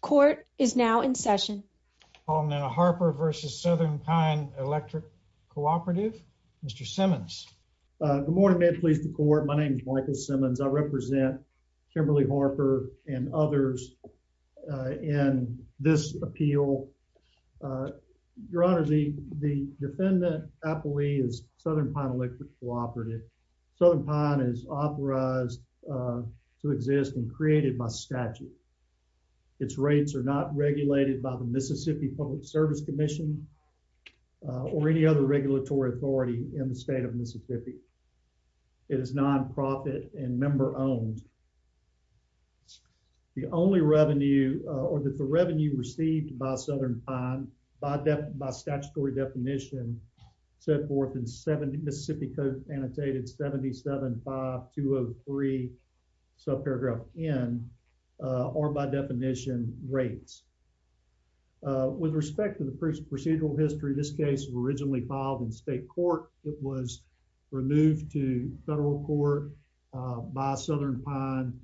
Court is now in session on the Harper v. Southern Pine Electric Cooperative. Mr. Simmons. Good morning. May it please the court. My name is Michael Simmons. I represent Kimberly Harper and others in this appeal. Your Honor, the defendant I believe is Southern Pine Electric Cooperative. Southern Pine is authorized to exist and created by statute. Its rates are not regulated by the Mississippi Public Service Commission or any other regulatory authority in the state of Mississippi. It is non-profit and member-owned. The only revenue or the revenue received by Southern Pine by statutory definition set forth in Mississippi Code annotated 775203 subparagraph n or by definition rates. With respect to the procedural history, this case was originally filed in state court. It was removed to federal court by Southern Pine.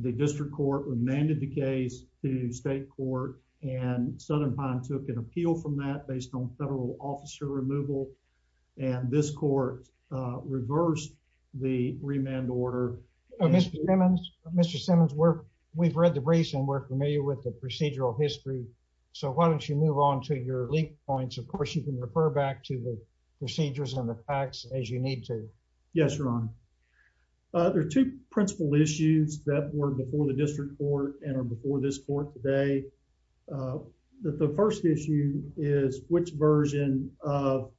The district court remanded the case to state court and Southern Pine took an appeal from that based on federal officer removal and this court reversed the remand order. Mr. Simmons, we've read the briefs and we're familiar with the procedural history, so why don't you move on to your lead points. Of course, you can refer back to the procedures and the facts as you need to. Yes, Your Honor. There are two principal issues that were before the district court and are before this court today. The first issue is which version of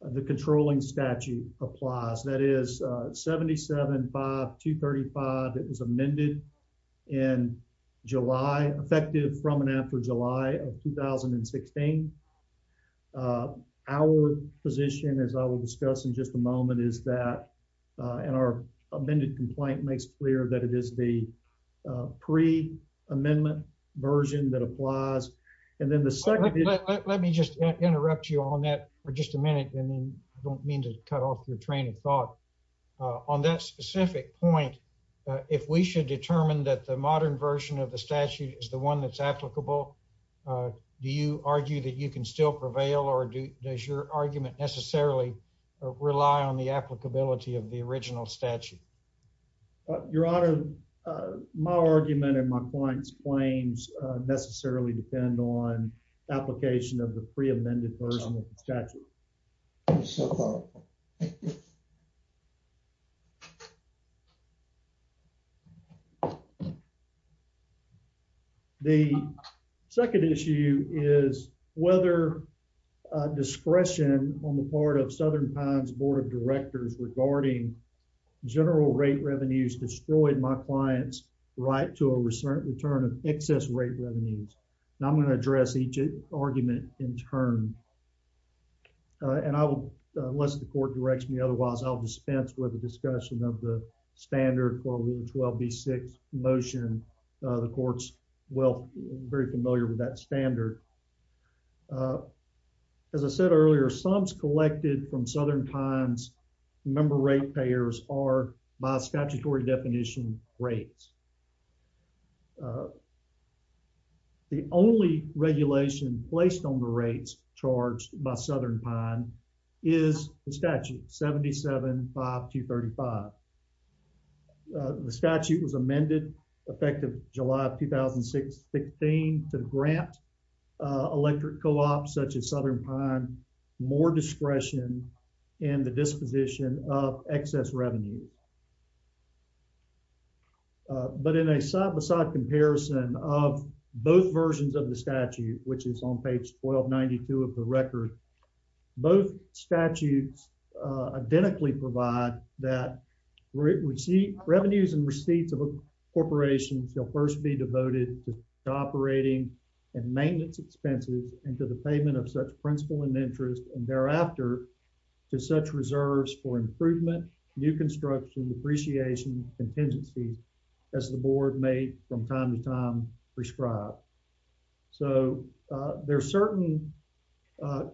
the controlling statute applies. That is 775235 that was amended in July effective from and after July of 2016. Our position as I will discuss in just a moment is and our amended complaint makes clear that it is the pre-amendment version that applies. Let me just interrupt you on that for just a minute. I don't mean to cut off your train of thought. On that specific point, if we should determine that the modern version of the statute is the one that's applicable, do you argue that you can still prevail or does your argument necessarily rely on the applicability of the original statute? Your Honor, my argument and my client's claims necessarily depend on application of the pre-amended version of the statute. I'm so thoughtful. The second issue is whether discretion on the part of Southern Pines Board of Directors regarding general rate revenues destroyed my client's right to a return of excess rate revenues. Now, I'm going to address each argument in turn and I will unless the court directs me. Otherwise, I'll dispense with the discussion of the standard 12126 motion. The court's well very familiar with that standard. As I said earlier, sums collected from Southern Pines member rate payers are by statutory definition rates. The only regulation placed on the rates charged by Southern Pine is the statute 775235. The statute was amended effective July of 2016 to grant electric co-ops such as Southern Pine more discretion in the disposition of excess revenue. But in a side-by-side comparison of both versions of the statute, which is on page 1292 of the record, both statutes identically provide that revenues and receipts of a corporation shall first be devoted to operating and maintenance expenses and to the payment of such principal and interest and thereafter to such reserves for improvement, new construction, depreciation, contingency as the board may from time to time prescribe. So, there are certain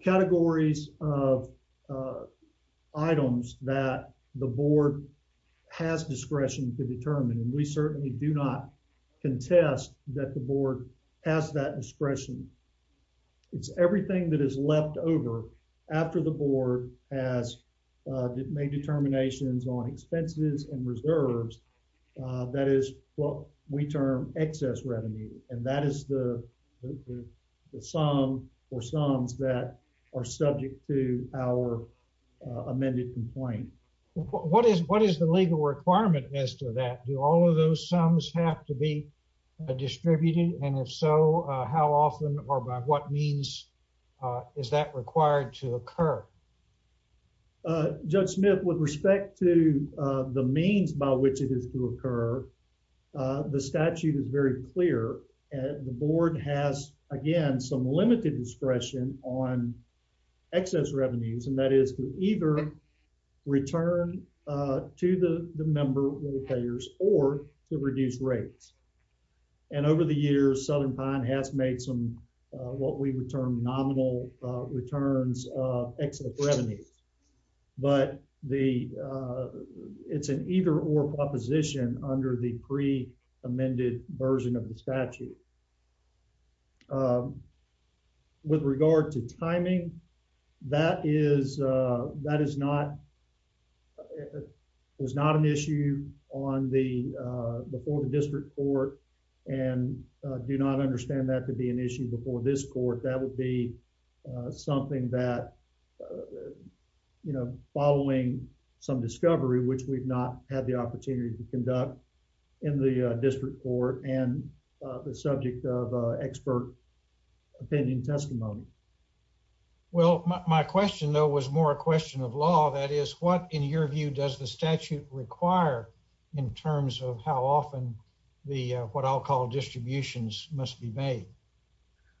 categories of items that the board has discretion to determine and we certainly do not contest that the board has that discretion. It's everything that is left over after the board has made determinations on expenses and reserves that is what we term excess revenue and that is the sum or sums that are subject to our amended complaint. What is what is the legal requirement as to that? Do all of those sums have to be distributed and if so, how often or by what means is that required to occur? Judge Smith, with respect to the means by which it is to occur, the statute is very clear and the board has, again, some limited discretion on excess revenues and that is to either return to the member or payers or to reduce rates. And over the years, Southern Pine has made some what we would term nominal returns of excess revenue. But the it's an either or proposition under the pre-amended version of the statute. With regard to timing, that is, that is not, was not an issue on the, before the district court and do not understand that to be an issue before this court. That would be something that, you know, following some discovery, which we've not had the opportunity to conduct in the district court and the subject of expert opinion testimony. Well, my question, though, was more a question of law. That is what, in your view, does the statute require in terms of how often the what I'll call distributions must be made?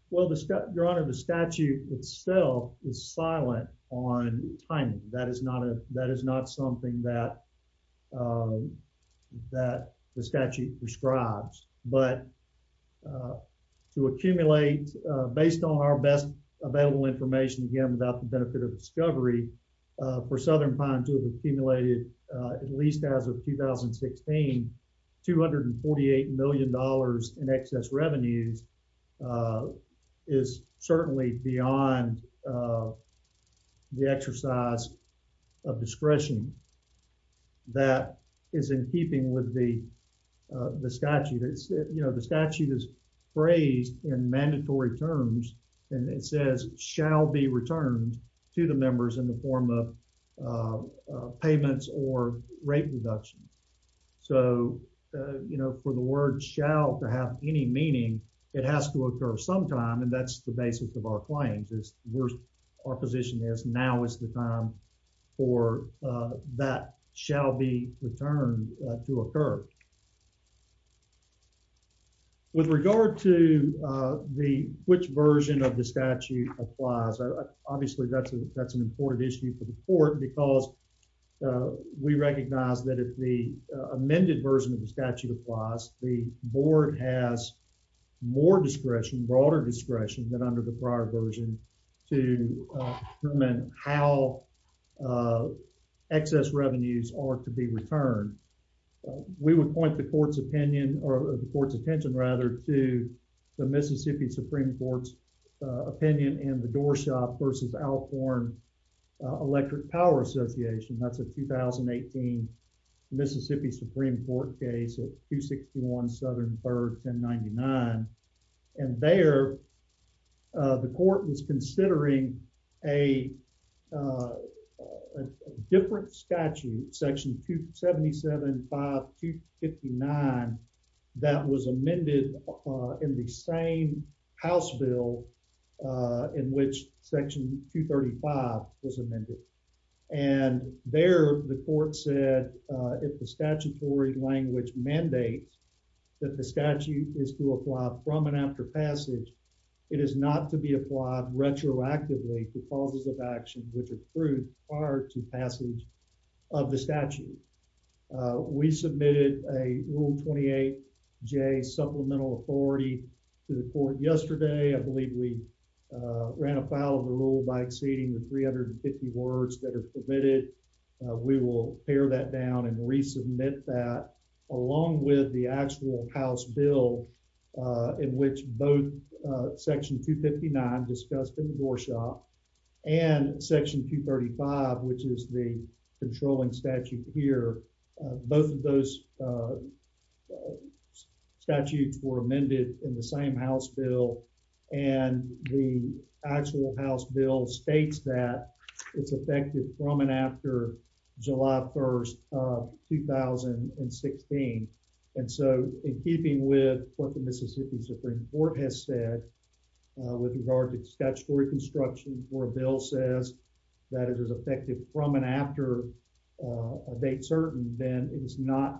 Well, Your Honor, the statute itself is silent on timing. That is not a, that is not something that that the statute prescribes. But to accumulate, based on our best available information, again, without the benefit of discovery for Southern Pine to have accumulated at least as of 2016, $248 million in excess revenues is certainly beyond the exercise of discretion that is in keeping with the statute. It's, you know, the statute is phrased in mandatory terms, and it says shall be returned to the members in the form of payments or rate reductions. So, you know, for the word shall to have any meaning, it has to occur sometime. And that's the basis of our claims is where our position is. Now is the time for that shall be returned to occur. With regard to the which version of the statute applies? Obviously, that's a that's an important issue for the court because we recognize that if the amended version of the statute applies, the board has more discretion, broader discretion than under the prior version to determine how excess revenues are to be returned. We would point the court's opinion or the court's attention rather to the Mississippi Supreme Court's opinion and the Doorshop versus Alcorn Electric Power Association. That's a 2018 Mississippi Supreme Court case at 261 Southern Byrd 1099. And there, the court was considering a a different statute, section 277.5259, that was amended in the same house bill in which section 235 was amended. And there, the court said, if the statutory language mandates that the statute is to apply from and after passage, it is not to be applied retroactively to causes of action which are approved prior to passage of the statute. We submitted a Rule 28J supplemental authority to the court yesterday. I believe we ran afoul of the rule by exceeding the 350 words that are permitted. We will pare that down and resubmit that along with the actual house bill in which both section 259 discussed in Doorshop and section 235 which is the controlling statute here. Both of those statutes were amended in the same house bill and the actual house bill states that it's effective from and after July 1, 2016. And so, in keeping with what the Mississippi Supreme Court has said with regard to statutory construction where a bill says that it is effective from and after a date certain, then it is not,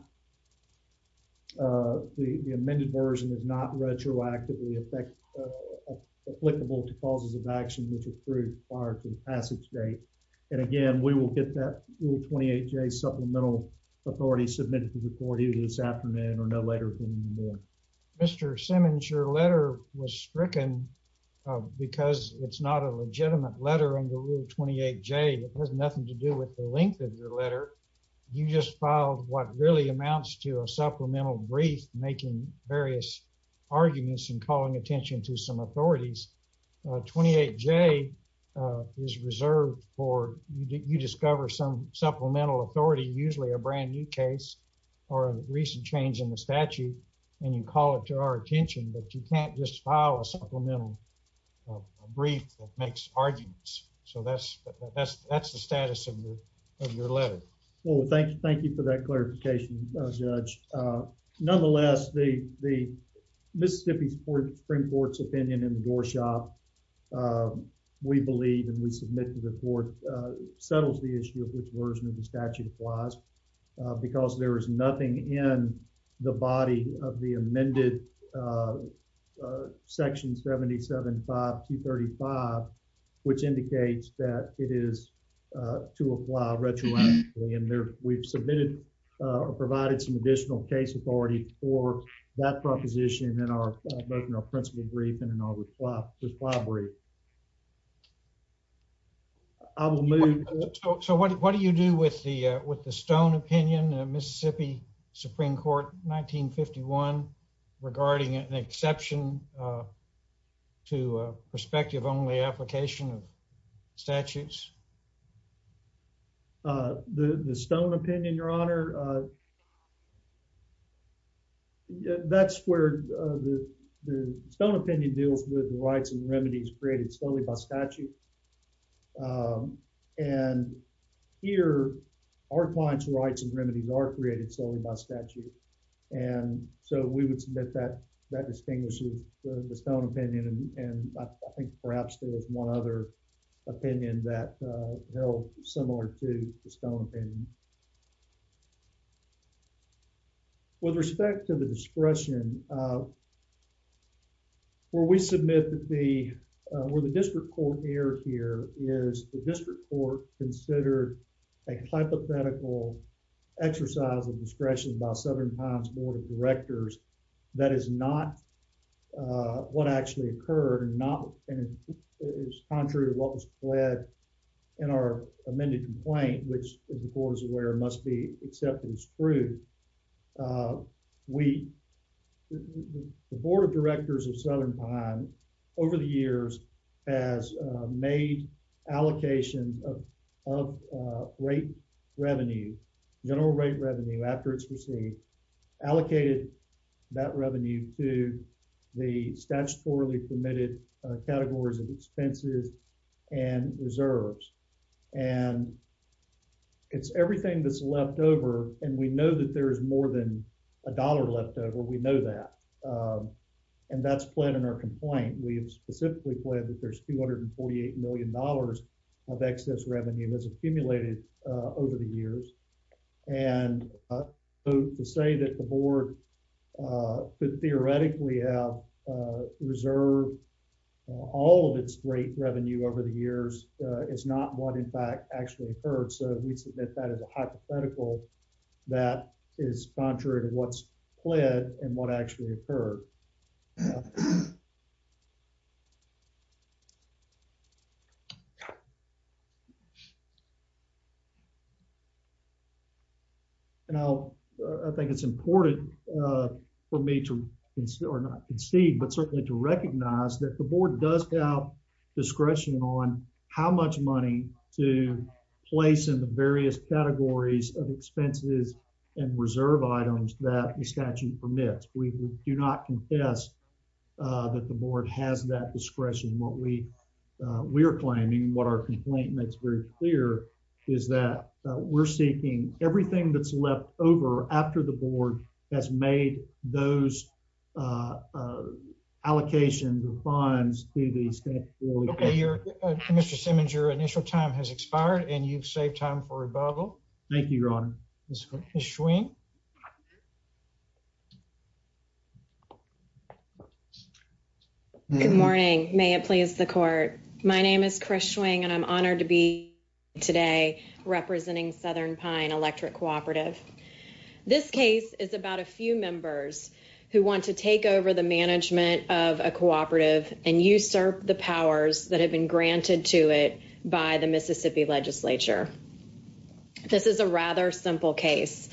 uh, the amended version is not retroactively applicable to causes of action which are approved prior to the passage date. And again, we will get that Rule 28J supplemental authority submitted to the court either this afternoon or no later than tomorrow. Mr. Simmons, your letter was stricken because it's not a legitimate letter under Rule 28J. It has nothing to do with the length of your letter. You just filed what really amounts to a supplemental brief making various arguments and calling attention to some authorities. 28J is reserved for you discover some supplemental authority, usually a brand new case or a recent change in the statute, and you call it to our attention, but you can't just file a supplemental brief that makes arguments. So, that's the status of your letter. Well, thank you for that clarification, Judge. Nonetheless, the Mississippi Supreme Court's opinion in the Doorshop, we believe and we submit to the court, settles the issue of which version of the statute applies because there is nothing in the body of the amended Section 775-235 which indicates that it is to apply retroactively. And we've submitted or provided some additional case authority for that proposition in our principal brief and in our reply brief. I will move. So, what do you do with the Stone opinion, Mississippi Supreme Court 1951 regarding an exception to a prospective only application of statutes? The Stone opinion, Your Honor, that's where the Stone opinion deals with the rights and remedies created solely by statute. And here, our client's rights and remedies are created solely by statute. And so, we would submit that that distinguishes the Stone opinion and I think perhaps there is one other opinion that held similar to the Stone opinion. With respect to the discretion, where we submit the, where the district court err here is the district court considered a hypothetical exercise of discretion by Southern Pines Board of Directors. That is not what actually occurred and not, and it's contrary to what was pledged in our amended complaint, which the court is aware must be accepted as proof. We, the Board of Directors of Southern Pines over the years has made allocations of rate revenue, general rate revenue after it's received, allocated that revenue to the statutorily permitted categories of expenses and reserves. And it's everything that's left over and we know that there is more than a dollar left over. We know that. And that's pledged in our complaint. We have specifically pledged that there's $248 million of excess revenue that's accumulated over the years. And to say that the board could theoretically have reserved all of its rate revenue over the years is not what in fact actually occurred. So, we submit that as a hypothetical that is contrary to what's pled and what actually occurred. And I'll, I think it's important for me to, or not concede, but certainly to recognize that the board does have discretion on how much money to place in the various categories of expenses and reserve items that the statute permits. We do not confess that the board has that discretion. What we, we're claiming, what our complaint makes very clear is that we're seeking everything that's left over after the board has made those allocations of funds to the statutorily permitted. Okay, your, Mr. Simmons, your initial time has expired and you've saved time for rebuttal. Thank you, Your Honor. Ms. Schwing. Good morning. May it please the court. My name is Chris Schwing and I'm honored to be today representing Southern Pine Electric Cooperative. This case is about a few members who want to take over the management of a cooperative and usurp the powers that have been given to them by the Mississippi legislature. This is a rather simple case.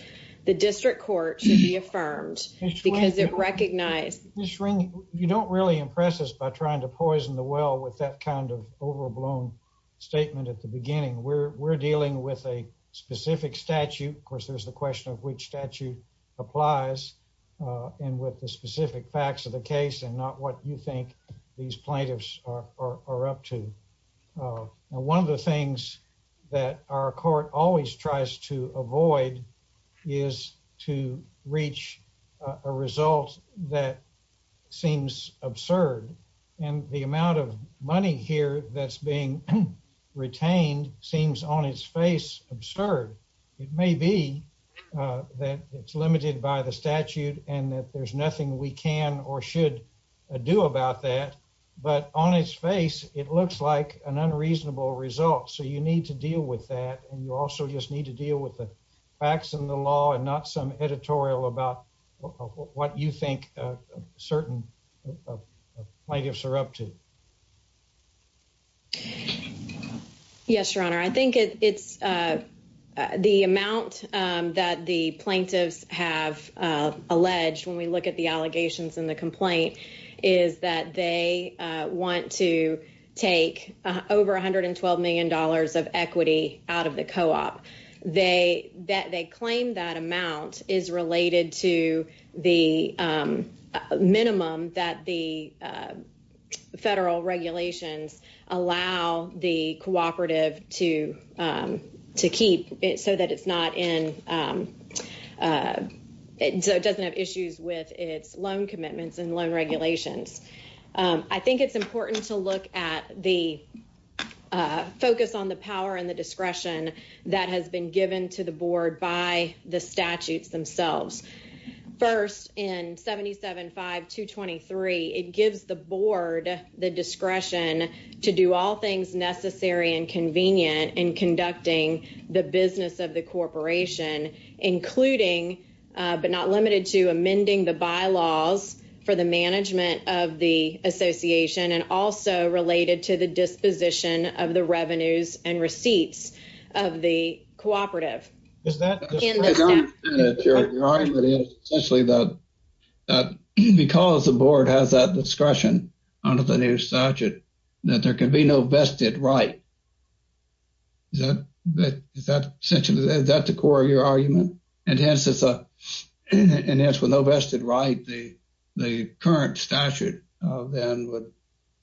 The district court should be affirmed because it recognized... Ms. Schwing, you don't really impress us by trying to poison the well with that kind of overblown statement at the beginning. We're dealing with a specific statute. Of course, there's the question of which statute applies and with the specific facts of the case and not what you think these plaintiffs are up to. One of the things that our court always tries to avoid is to reach a result that seems absurd and the amount of money here that's being retained seems on its face absurd. It may be that it's limited by the statute and that there's nothing we can or should do about that, but on its face it looks like an unreasonable result. So you need to deal with that and you also just need to deal with the facts and the law and not some editorial about what you think certain plaintiffs are up to. Yes, your honor. I think it's the amount that the plaintiffs have alleged when we look at the allegations in the complaint is that they want to take over $112 million of equity out of the co-op. They claim that amount is related to the minimum that the federal regulations allow the cooperative to keep so that it doesn't have issues with its loan commitments and loan regulations. I think it's important to look at the focus on the power and the discretion that has been given to the board by the statutes themselves. First, in 775-223, it gives the board the discretion to do all things necessary and convenient in conducting the business of the corporation including but not limited to amending the bylaws for the management of the association and also related to the disposition of the revenues and receipts of the cooperative. I understand that your argument is essentially that because the board has that discretion under the new statute that there can be no vested right. Is that the core of your argument? And hence, with no vested right, the current statute then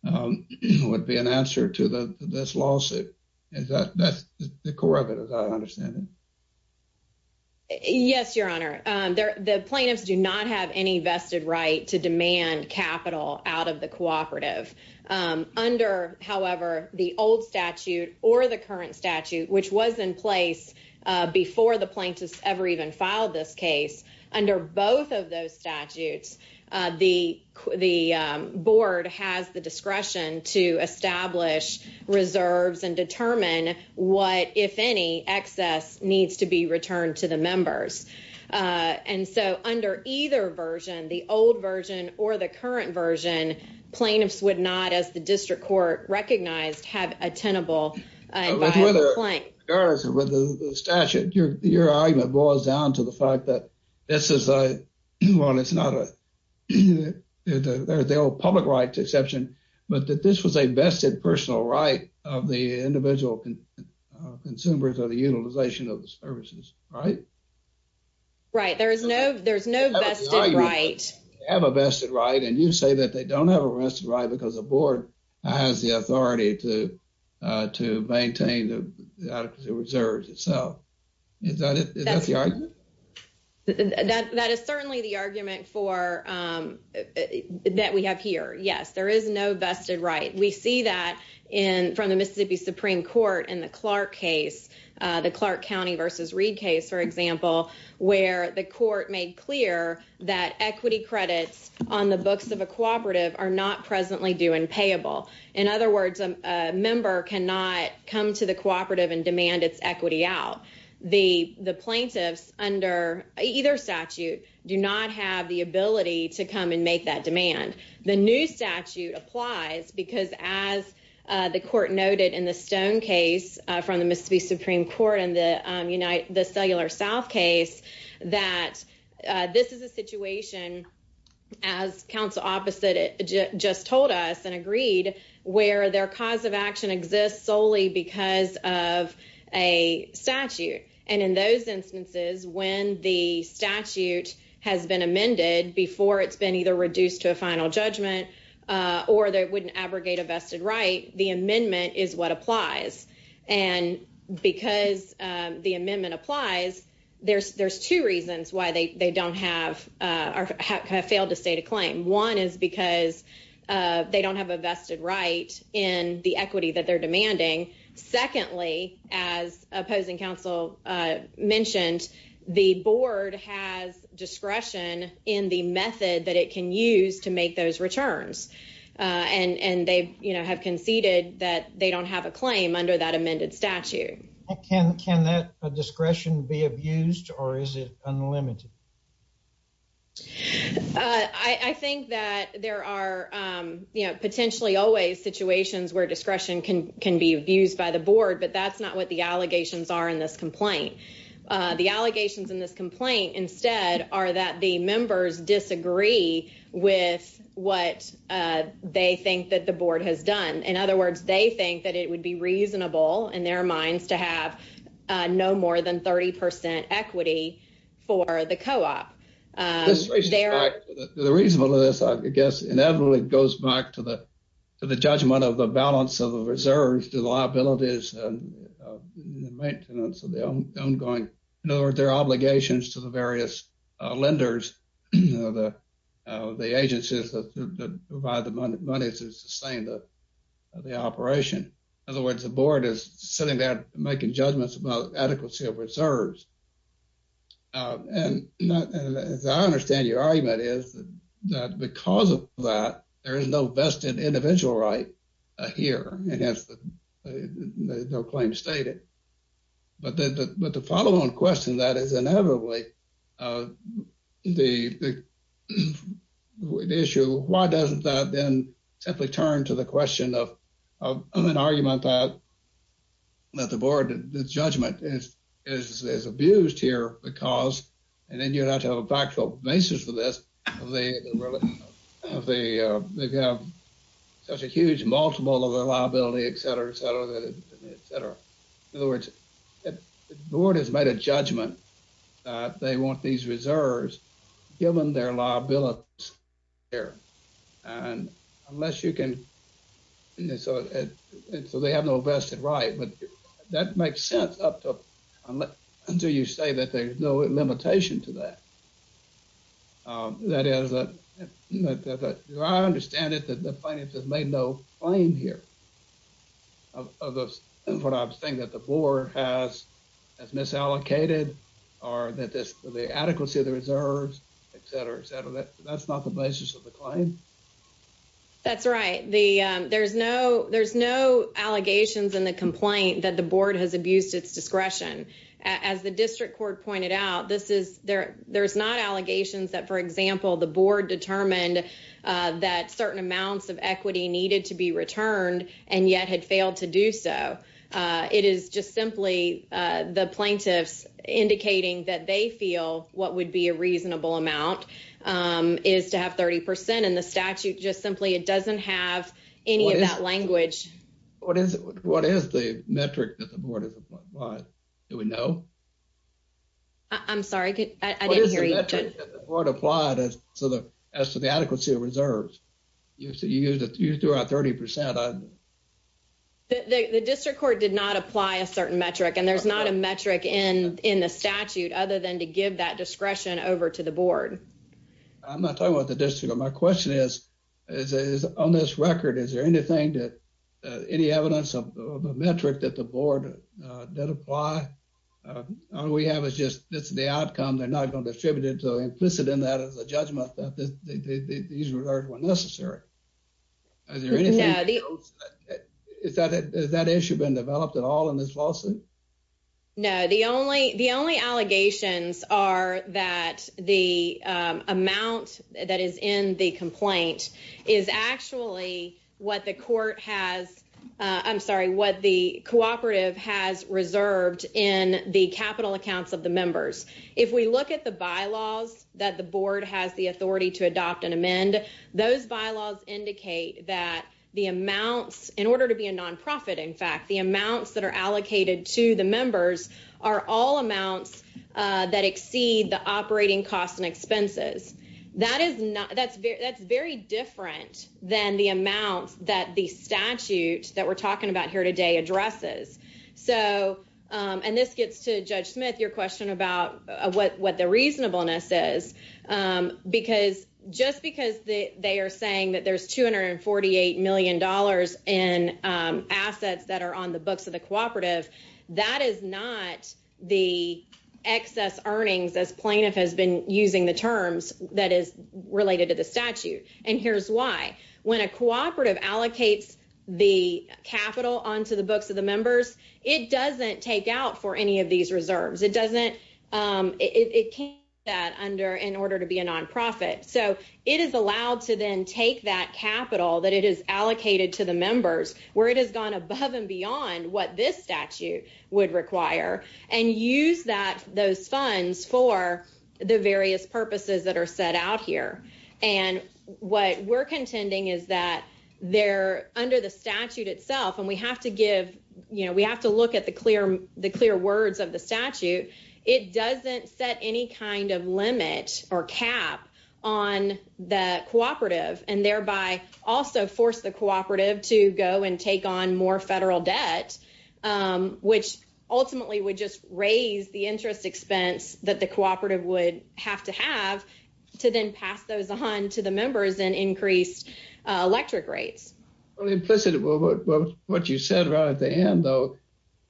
would be an answer to this lawsuit. That's the core of it as I understand it. Yes, Your Honor. The plaintiffs do not have any vested right to demand capital out of the cooperative. Under, however, the old statute or the current statute, which was in place before the plaintiffs ever even filed this case, under both of those statutes, the board has the discretion to establish reserves and determine what, if any, excess needs to be returned to the members. And so, under either version, the old version or the current version, plaintiffs would not, as the district court recognized, have a tenable inviolable claim. With the statute, your argument boils down to the fact that this is a, well, it's not a, there's the old public rights exception, but that this was a vested personal right of the individual consumers or the utilization of the services, right? Right. There is no, there's no vested right. Have a vested right. And you say that they don't have a vested right because the board has the authority to maintain the adequacy of reserves itself. Is that the argument? That is certainly the argument for, that we have here. Yes, there is no vested right. We see that from the Mississippi Supreme Court in the Clark case, the Clark County versus Reed case, for example, where the court made clear that equity credits on the books of a cooperative are not presently due and payable. In other words, a member cannot come to the cooperative and demand its equity out. The plaintiffs under either statute do not have the ability to come and make that demand. The new statute applies because, as the court noted in the Stone case from the Mississippi Supreme Court in the Cellular South case, that this is a situation, as counsel opposite just told us and agreed, where their cause of action exists solely because of a statute. And in those instances, when the statute has been amended before it's been either reduced to a final judgment or they wouldn't abrogate a vested right, the amendment is what applies. And because the amendment applies, there's two reasons why they don't have, or have failed to state a claim. One is because they don't have a vested right in the equity that they're demanding. Secondly, as opposing counsel mentioned, the board has discretion in the method that it can use to make those returns. And they have conceded that they don't have a claim under that amended statute. Can that discretion be abused or is it unlimited? I think that there are potentially always situations where discretion can be abused by the board, but that's not what the allegations are in this complaint. The allegations in this complaint instead are that the members disagree with what they think that the board has done. In other words, they think that it would be reasonable in their minds to have no more than 30% equity for the co-op. The reason for this, I guess, inevitably goes back to the judgment of the balance of the reserves to the liabilities and the maintenance of the ongoing, in other words, their obligations to the various lenders, the agencies that provide the money to sustain the operation. In other words, the board is sitting there making judgments about adequacy of reserves. And as I understand your argument is that because of that, there is no vested individual right here, no claim stated. But the follow-on question that is inevitably of the issue, why doesn't that then simply turn to the question of an argument that that the board, the judgment is abused here because, and then you have to have a factual basis for this, of such a huge multiple of the liability, et cetera, et cetera, et cetera. In other words, the board has made a judgment that they want these reserves given their liabilities there. And unless you can, so they have no vested right, but that makes sense up to, until you say that there's no limitation to that. That is, I understand that the finances made no claim here of what I'm saying that the board has misallocated or that this, the adequacy of the reserves, et cetera, et cetera, that's not the basis of the claim. That's right. There's no allegations in the complaint that the board has abused its discretion. As the district court pointed out, there's not allegations that, for example, the board determined that certain amounts of equity needed to be returned and yet had failed to do so. It is just simply the plaintiffs indicating that they feel what would be a reasonable amount is to have 30%. And the statute just simply, it doesn't have any of that language. What is the metric that the board has applied? Do we know? I'm sorry, I didn't hear you. The board applied as to the adequacy of reserves. You said you used it throughout 30%. The district court did not apply a certain metric and there's not a metric in, in the statute other than to give that discretion over to the board. I'm not talking about the district. My question is, is on this record, is there anything that any evidence of a metric that the board did apply? All we have is just, this is the outcome. They're not going to distribute it implicit in that as a judgment that these were necessary. Is there anything else? Has that issue been developed at all in this lawsuit? No, the only, the only allegations are that the amount that is in the complaint is actually what the court has, I'm sorry, what the cooperative has reserved in the capital accounts of the members. If we look at the bylaws that the board has the authority to adopt and amend, those bylaws indicate that the amounts, in order to be a non-profit, in fact, the amounts that are allocated to the members are all amounts that exceed the operating costs and expenses. That is not, that's very, that's very different than the amounts that the statute that we're talking about here today addresses. So, and this gets to Judge Smith, your question about what the reasonableness is, because just because they are saying that there's $248 million in assets that are on the books of the cooperative, that is not the excess earnings as plaintiff has been using the terms that is related to the statute. And here's why. When a cooperative allocates the capital onto the books of the members, it doesn't take out for any of these reserves. It doesn't, it can't do that under, in order to be a non-profit. So it is allowed to then take that capital that it has allocated to the members where it has gone above and beyond what this statute would require and use that, those funds for the various purposes that are set out here. And what we're contending is that there under the statute itself, and we have to give, you know, we have to look at the clear, the clear words of the statute. It doesn't set any kind of limit or cap on the cooperative and thereby also force the cooperative to go and take on more federal debt, which ultimately would just raise the interest expense that the cooperative would have to have to then pass those on to the members and increased electric rates. Well, implicitly what you said right at the end though,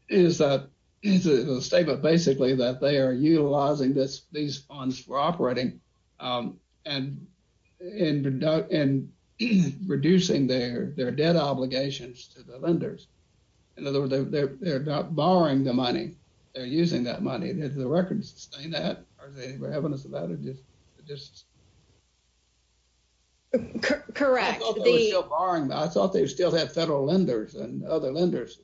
is that it's a statement basically that they are utilizing this, these funds for operating and in reducing their debt obligations to the lenders. In other words, they're not borrowing the money. They're using that money. Does the record sustain that? Or is there any evidence about it? Correct. I thought they still had federal lenders and other lenders.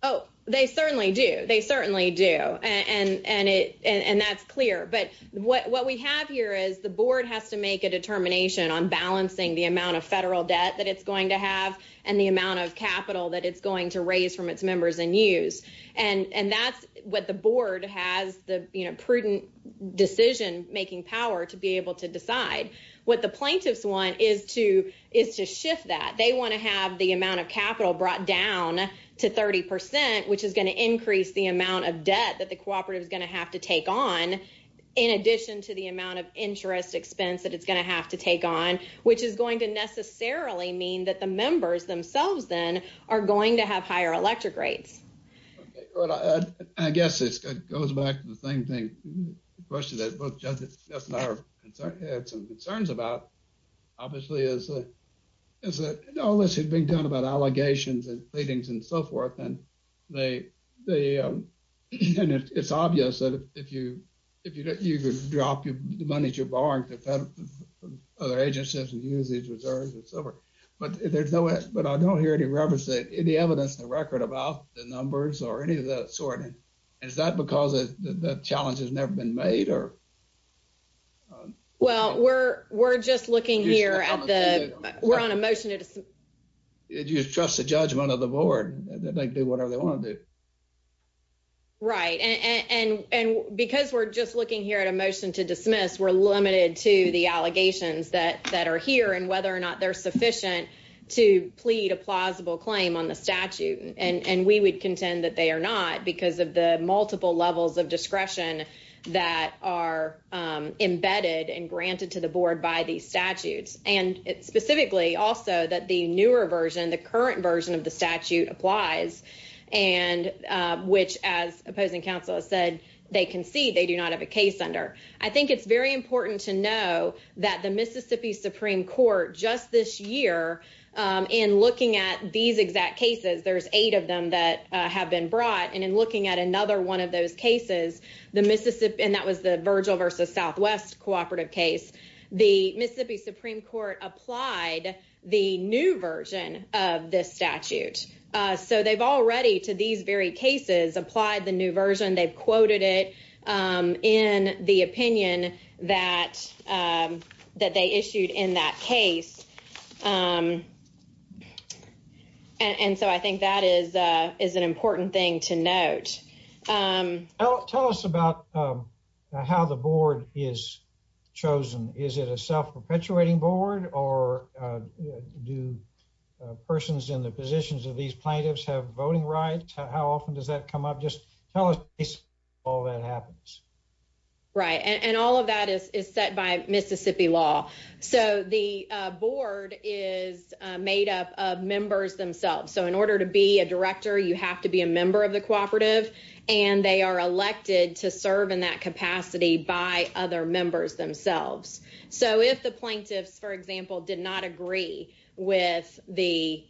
Oh, they certainly do. They certainly do. And that's clear. But what we have here is the board has to make a determination on balancing the amount of federal debt that it's going to have and the amount of capital that it's going to raise from its members and use. And that's what the making power to be able to decide. What the plaintiffs want is to shift that. They want to have the amount of capital brought down to 30%, which is going to increase the amount of debt that the cooperative is going to have to take on, in addition to the amount of interest expense that it's going to have to take on, which is going to necessarily mean that the members themselves then are going to have higher electric rates. I guess it goes back to the same thing, the question that both Judge Jess and I had some concerns about, obviously, is that all this has been done about allegations and pleadings and so forth. And it's obvious that if you drop the money that you're borrowing from other agencies and use these reserves and so forth, but I don't hear any evidence in the record about the numbers or any of that sort. And is that because the challenge has never been made or? Well, we're just looking here at the, we're on a motion to trust the judgment of the board that they do whatever they want to do. Right. And because we're just looking here at a motion to dismiss, we're limited to the allegations that are here and whether or not they're sufficient to plead a plausible claim on the statute. And we would contend that they are not because of the multiple levels of discretion that are embedded and granted to the board by these statutes. And it's specifically also that the newer version, the current version of the statute applies and which, as opposing counsel has said, they concede they do not have a case under. I think it's very important to know that the Mississippi Supreme Court just this year, in looking at these exact cases, there's eight of them that have been brought. And in looking at another one of those cases, the Mississippi, and that was the Virgil versus Southwest cooperative case, the Mississippi Supreme Court applied the new version of this statute. So they've already to these very cases applied the new version. They've quoted it in the opinion that they issued in that case. And so I think that is an important thing to note. Tell us about how the board is chosen. Is it a self-perpetuating board or do persons in the just tell us all that happens? Right. And all of that is set by Mississippi law. So the board is made up of members themselves. So in order to be a director, you have to be a member of the cooperative and they are elected to serve in that capacity by other members themselves. So if the plaintiffs, for example, did not agree with the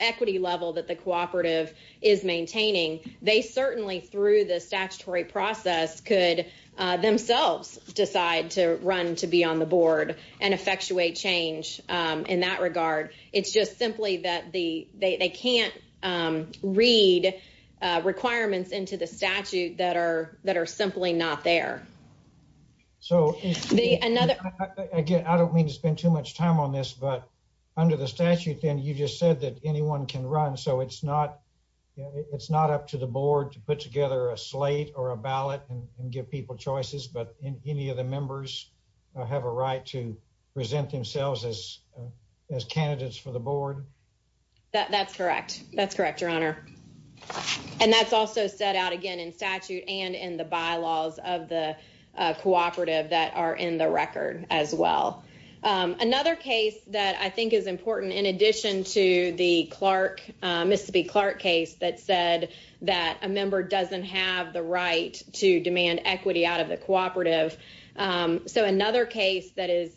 equity level that the cooperative is maintaining, they certainly through the statutory process could themselves decide to run to be on the board and effectuate change in that regard. It's just simply that they can't read requirements into the statute that are that are simply not there. So the another I don't mean to spend too much time on this, but under the statute, then you just said that anyone can run. So it's not it's not up to the board to put together a slate or a ballot and give people choices. But any of the members have a right to present themselves as candidates for the board. That's correct. That's correct, Your Honor. And that's also set out again in statute and in the bylaws of the cooperative that are in the record as well. Another case that I think is important in addition to the Clark Mississippi Clark case that said that a member doesn't have the right to demand equity out of the cooperative. So another case that is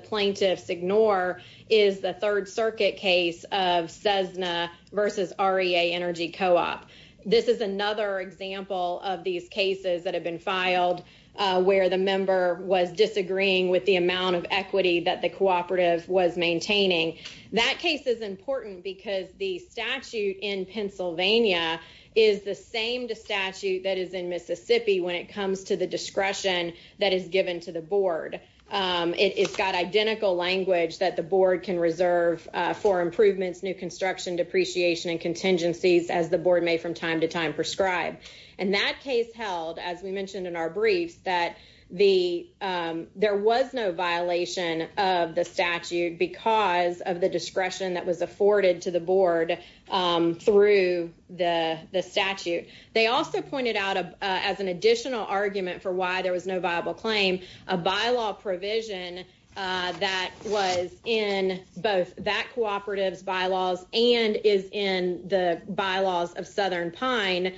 plaintiffs ignore is the Third Circuit case of Cessna versus REA Energy Co-op. This is another example of these cases that have been filed where the member was disagreeing with the amount of equity that the cooperative was maintaining. That case is important because the statute in Pennsylvania is the same to statute that is in Mississippi when it comes to the discretion that is given to the board. It's got identical language that the board can reserve for improvements, new construction, depreciation and contingencies as the board may from time to time prescribe. And that case held, as we mentioned in our briefs, that the there was no violation of the statute because of the discretion that was afforded to the board through the statute. They also pointed out as an additional argument for why there was no viable claim, a bylaw provision that was in both that cooperative's bylaws and is in the bylaws of Southern Pine.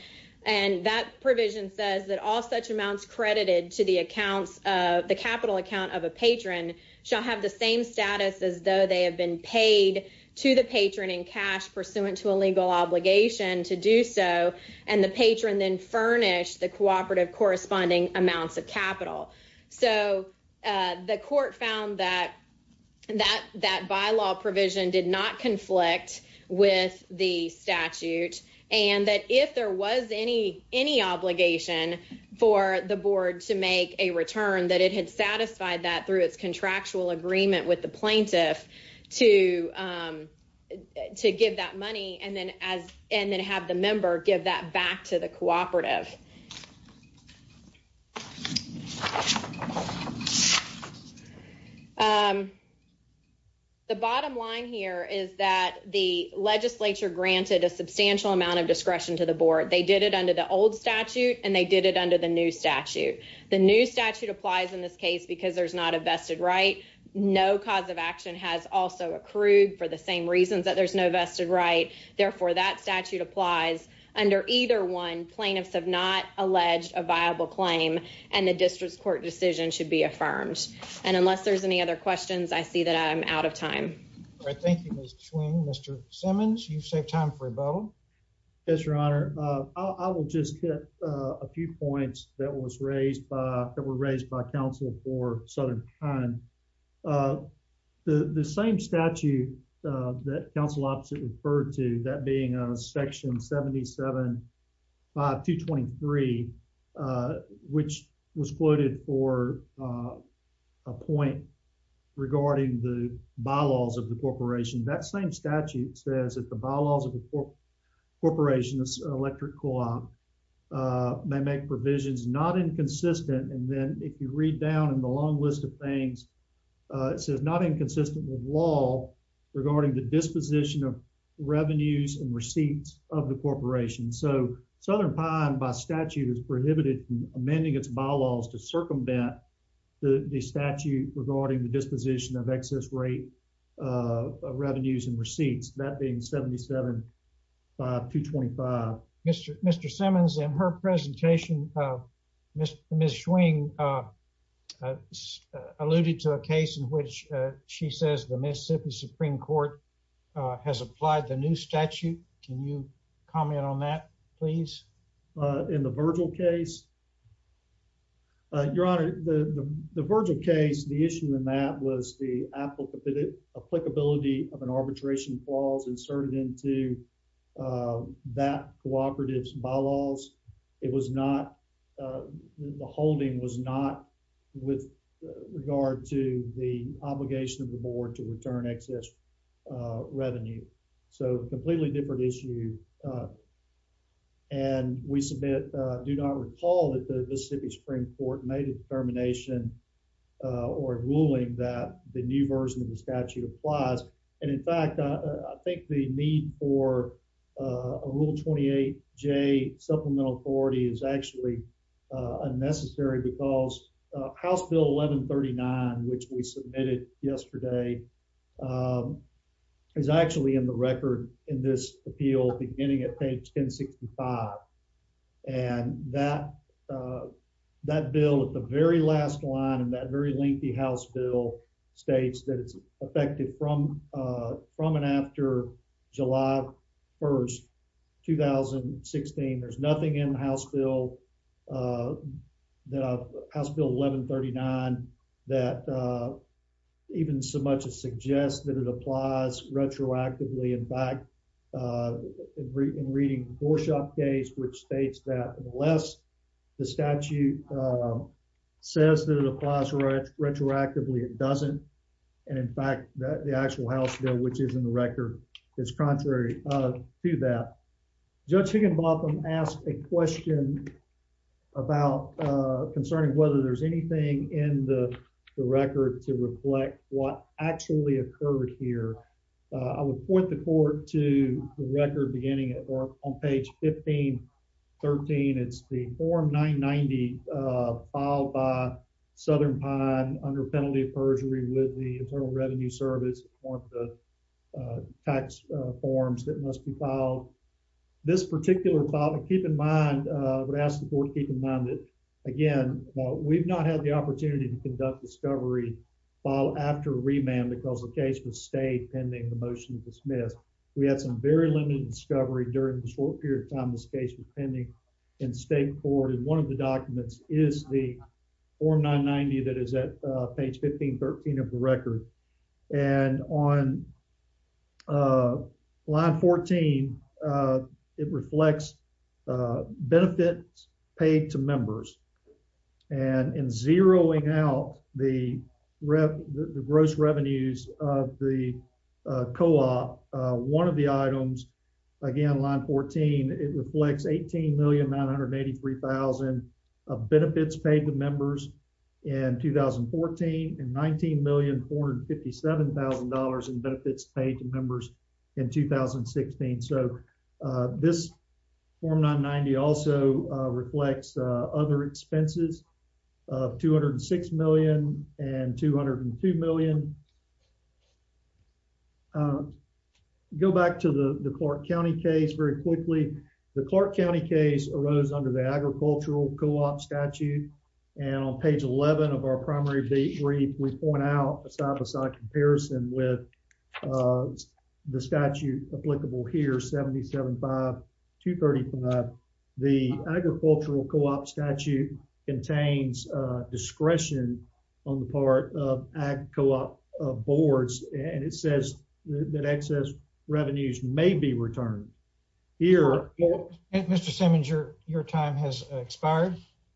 And that provision says that all such amounts credited to the accounts of the capital account of a patron shall have the same status as though they have been paid to the patron in cash pursuant to a legal obligation to do so. And the patron then furnished the cooperative corresponding amounts of capital. So the court found that that bylaw provision did not conflict with the statute and that if there was any obligation for the board to make a return, that it had satisfied that through its contractual agreement with the plaintiff to give that money and then have the member give that back to the cooperative. The bottom line here is that the legislature granted a substantial amount of discretion to the board. They did it under the old statute and they did it under the new statute. The new statute applies in this case because there's not a vested right. No cause of action has also accrued for the same reasons that there's no vested right. Therefore, that statute applies under either one. Plaintiffs have not alleged a viable claim and the district's court decision should be affirmed. And unless there's any other questions, I see that I'm out of time. Thank you, Mr. Swing. Mr. Simmons, you've saved time for a vote. Yes, your honor. I will just hit a few points that was raised by that were raised by counsel for southern time. The same statute that counsel opposite referred to that being a section 77 5223, which was quoted for a point regarding the bylaws of the corporation, that same statute says that the bylaws of the corporation's electric co-op may make provisions not inconsistent. And then if you read down in the long list of things, it says not inconsistent with law regarding the disposition of revenues and receipts of the corporation. So Southern Pine by statute is prohibited from amending its bylaws to circumvent the statute regarding the disposition of excess rate revenues and receipts. That being 77 to 25. Mr. Mr. Simmons and her presentation, Ms. Swing alluded to a case in which she says the Mississippi Supreme Court has applied the new statute. Can you comment on that, please? In the Virgil case? Your honor, the Virgil case, the issue in that was the applicability of an arbitration clause inserted into that cooperative's bylaws. It was not the holding was not with regard to the obligation of the board to return excess revenue. So completely different issue. And we submit, do not recall that the Mississippi Supreme Court made a determination or ruling that the new version of the statute applies. And in fact, I think the need for a rule 28 J supplemental authority is actually unnecessary because House Bill 1139, which we getting at page 1065 and that that bill at the very last line and that very lengthy House Bill states that it's effective from from and after July 1st, 2016. There's nothing in House Bill that House Bill 1139 that even so much as suggest that it applies retroactively. In fact, uh, in reading the Borshaw case, which states that unless the statute says that it applies retroactively, it doesn't. And in fact, the actual House Bill, which is in the record, is contrary to that. Judge Higginbotham asked a question about concerning whether there's anything in the record to reflect what actually occurred here. I would point the court to the record beginning at or on page 1513. It's the form 990, uh, filed by Southern Pine under penalty of perjury with the Internal Revenue Service on the tax forms that must be filed. This particular keep in mind, uh, would ask the board. Keep in mind it again. We've not had the opportunity to conduct discovery file after remand because the case was stayed pending the motion to dismiss. We had some very limited discovery during the short period of time. This case was pending in state court, and one of the documents is the form 990 that is at page 1513 of the record. And on, uh, line 14, uh, it reflects, uh, benefits paid to members. And in zeroing out the gross revenues of the co-op, uh, one of the items, again, line 14, it reflects $18,983,000 of benefits paid to members in 2014 and $19,457,000 in benefits paid to members in 2016. So, uh, this form 990 also, uh, reflects, uh, other expenses of $206,000,000 and $202,000,000. Uh, go back to the Clark County case very quickly. The Clark County case arose under the agricultural co-op statute, and on page 11 of our primary brief, we point out a side-by-side comparison with, uh, the statute applicable here, 775-235. The agricultural co-op statute contains, uh, discretion on the part of ag co-op boards, and it says that excess revenues may be expired.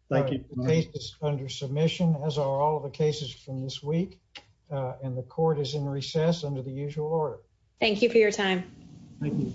Thank you. The case is under submission, as are all the cases from this week, uh, and the court is in recess under the usual order. Thank you for your time. Thank you.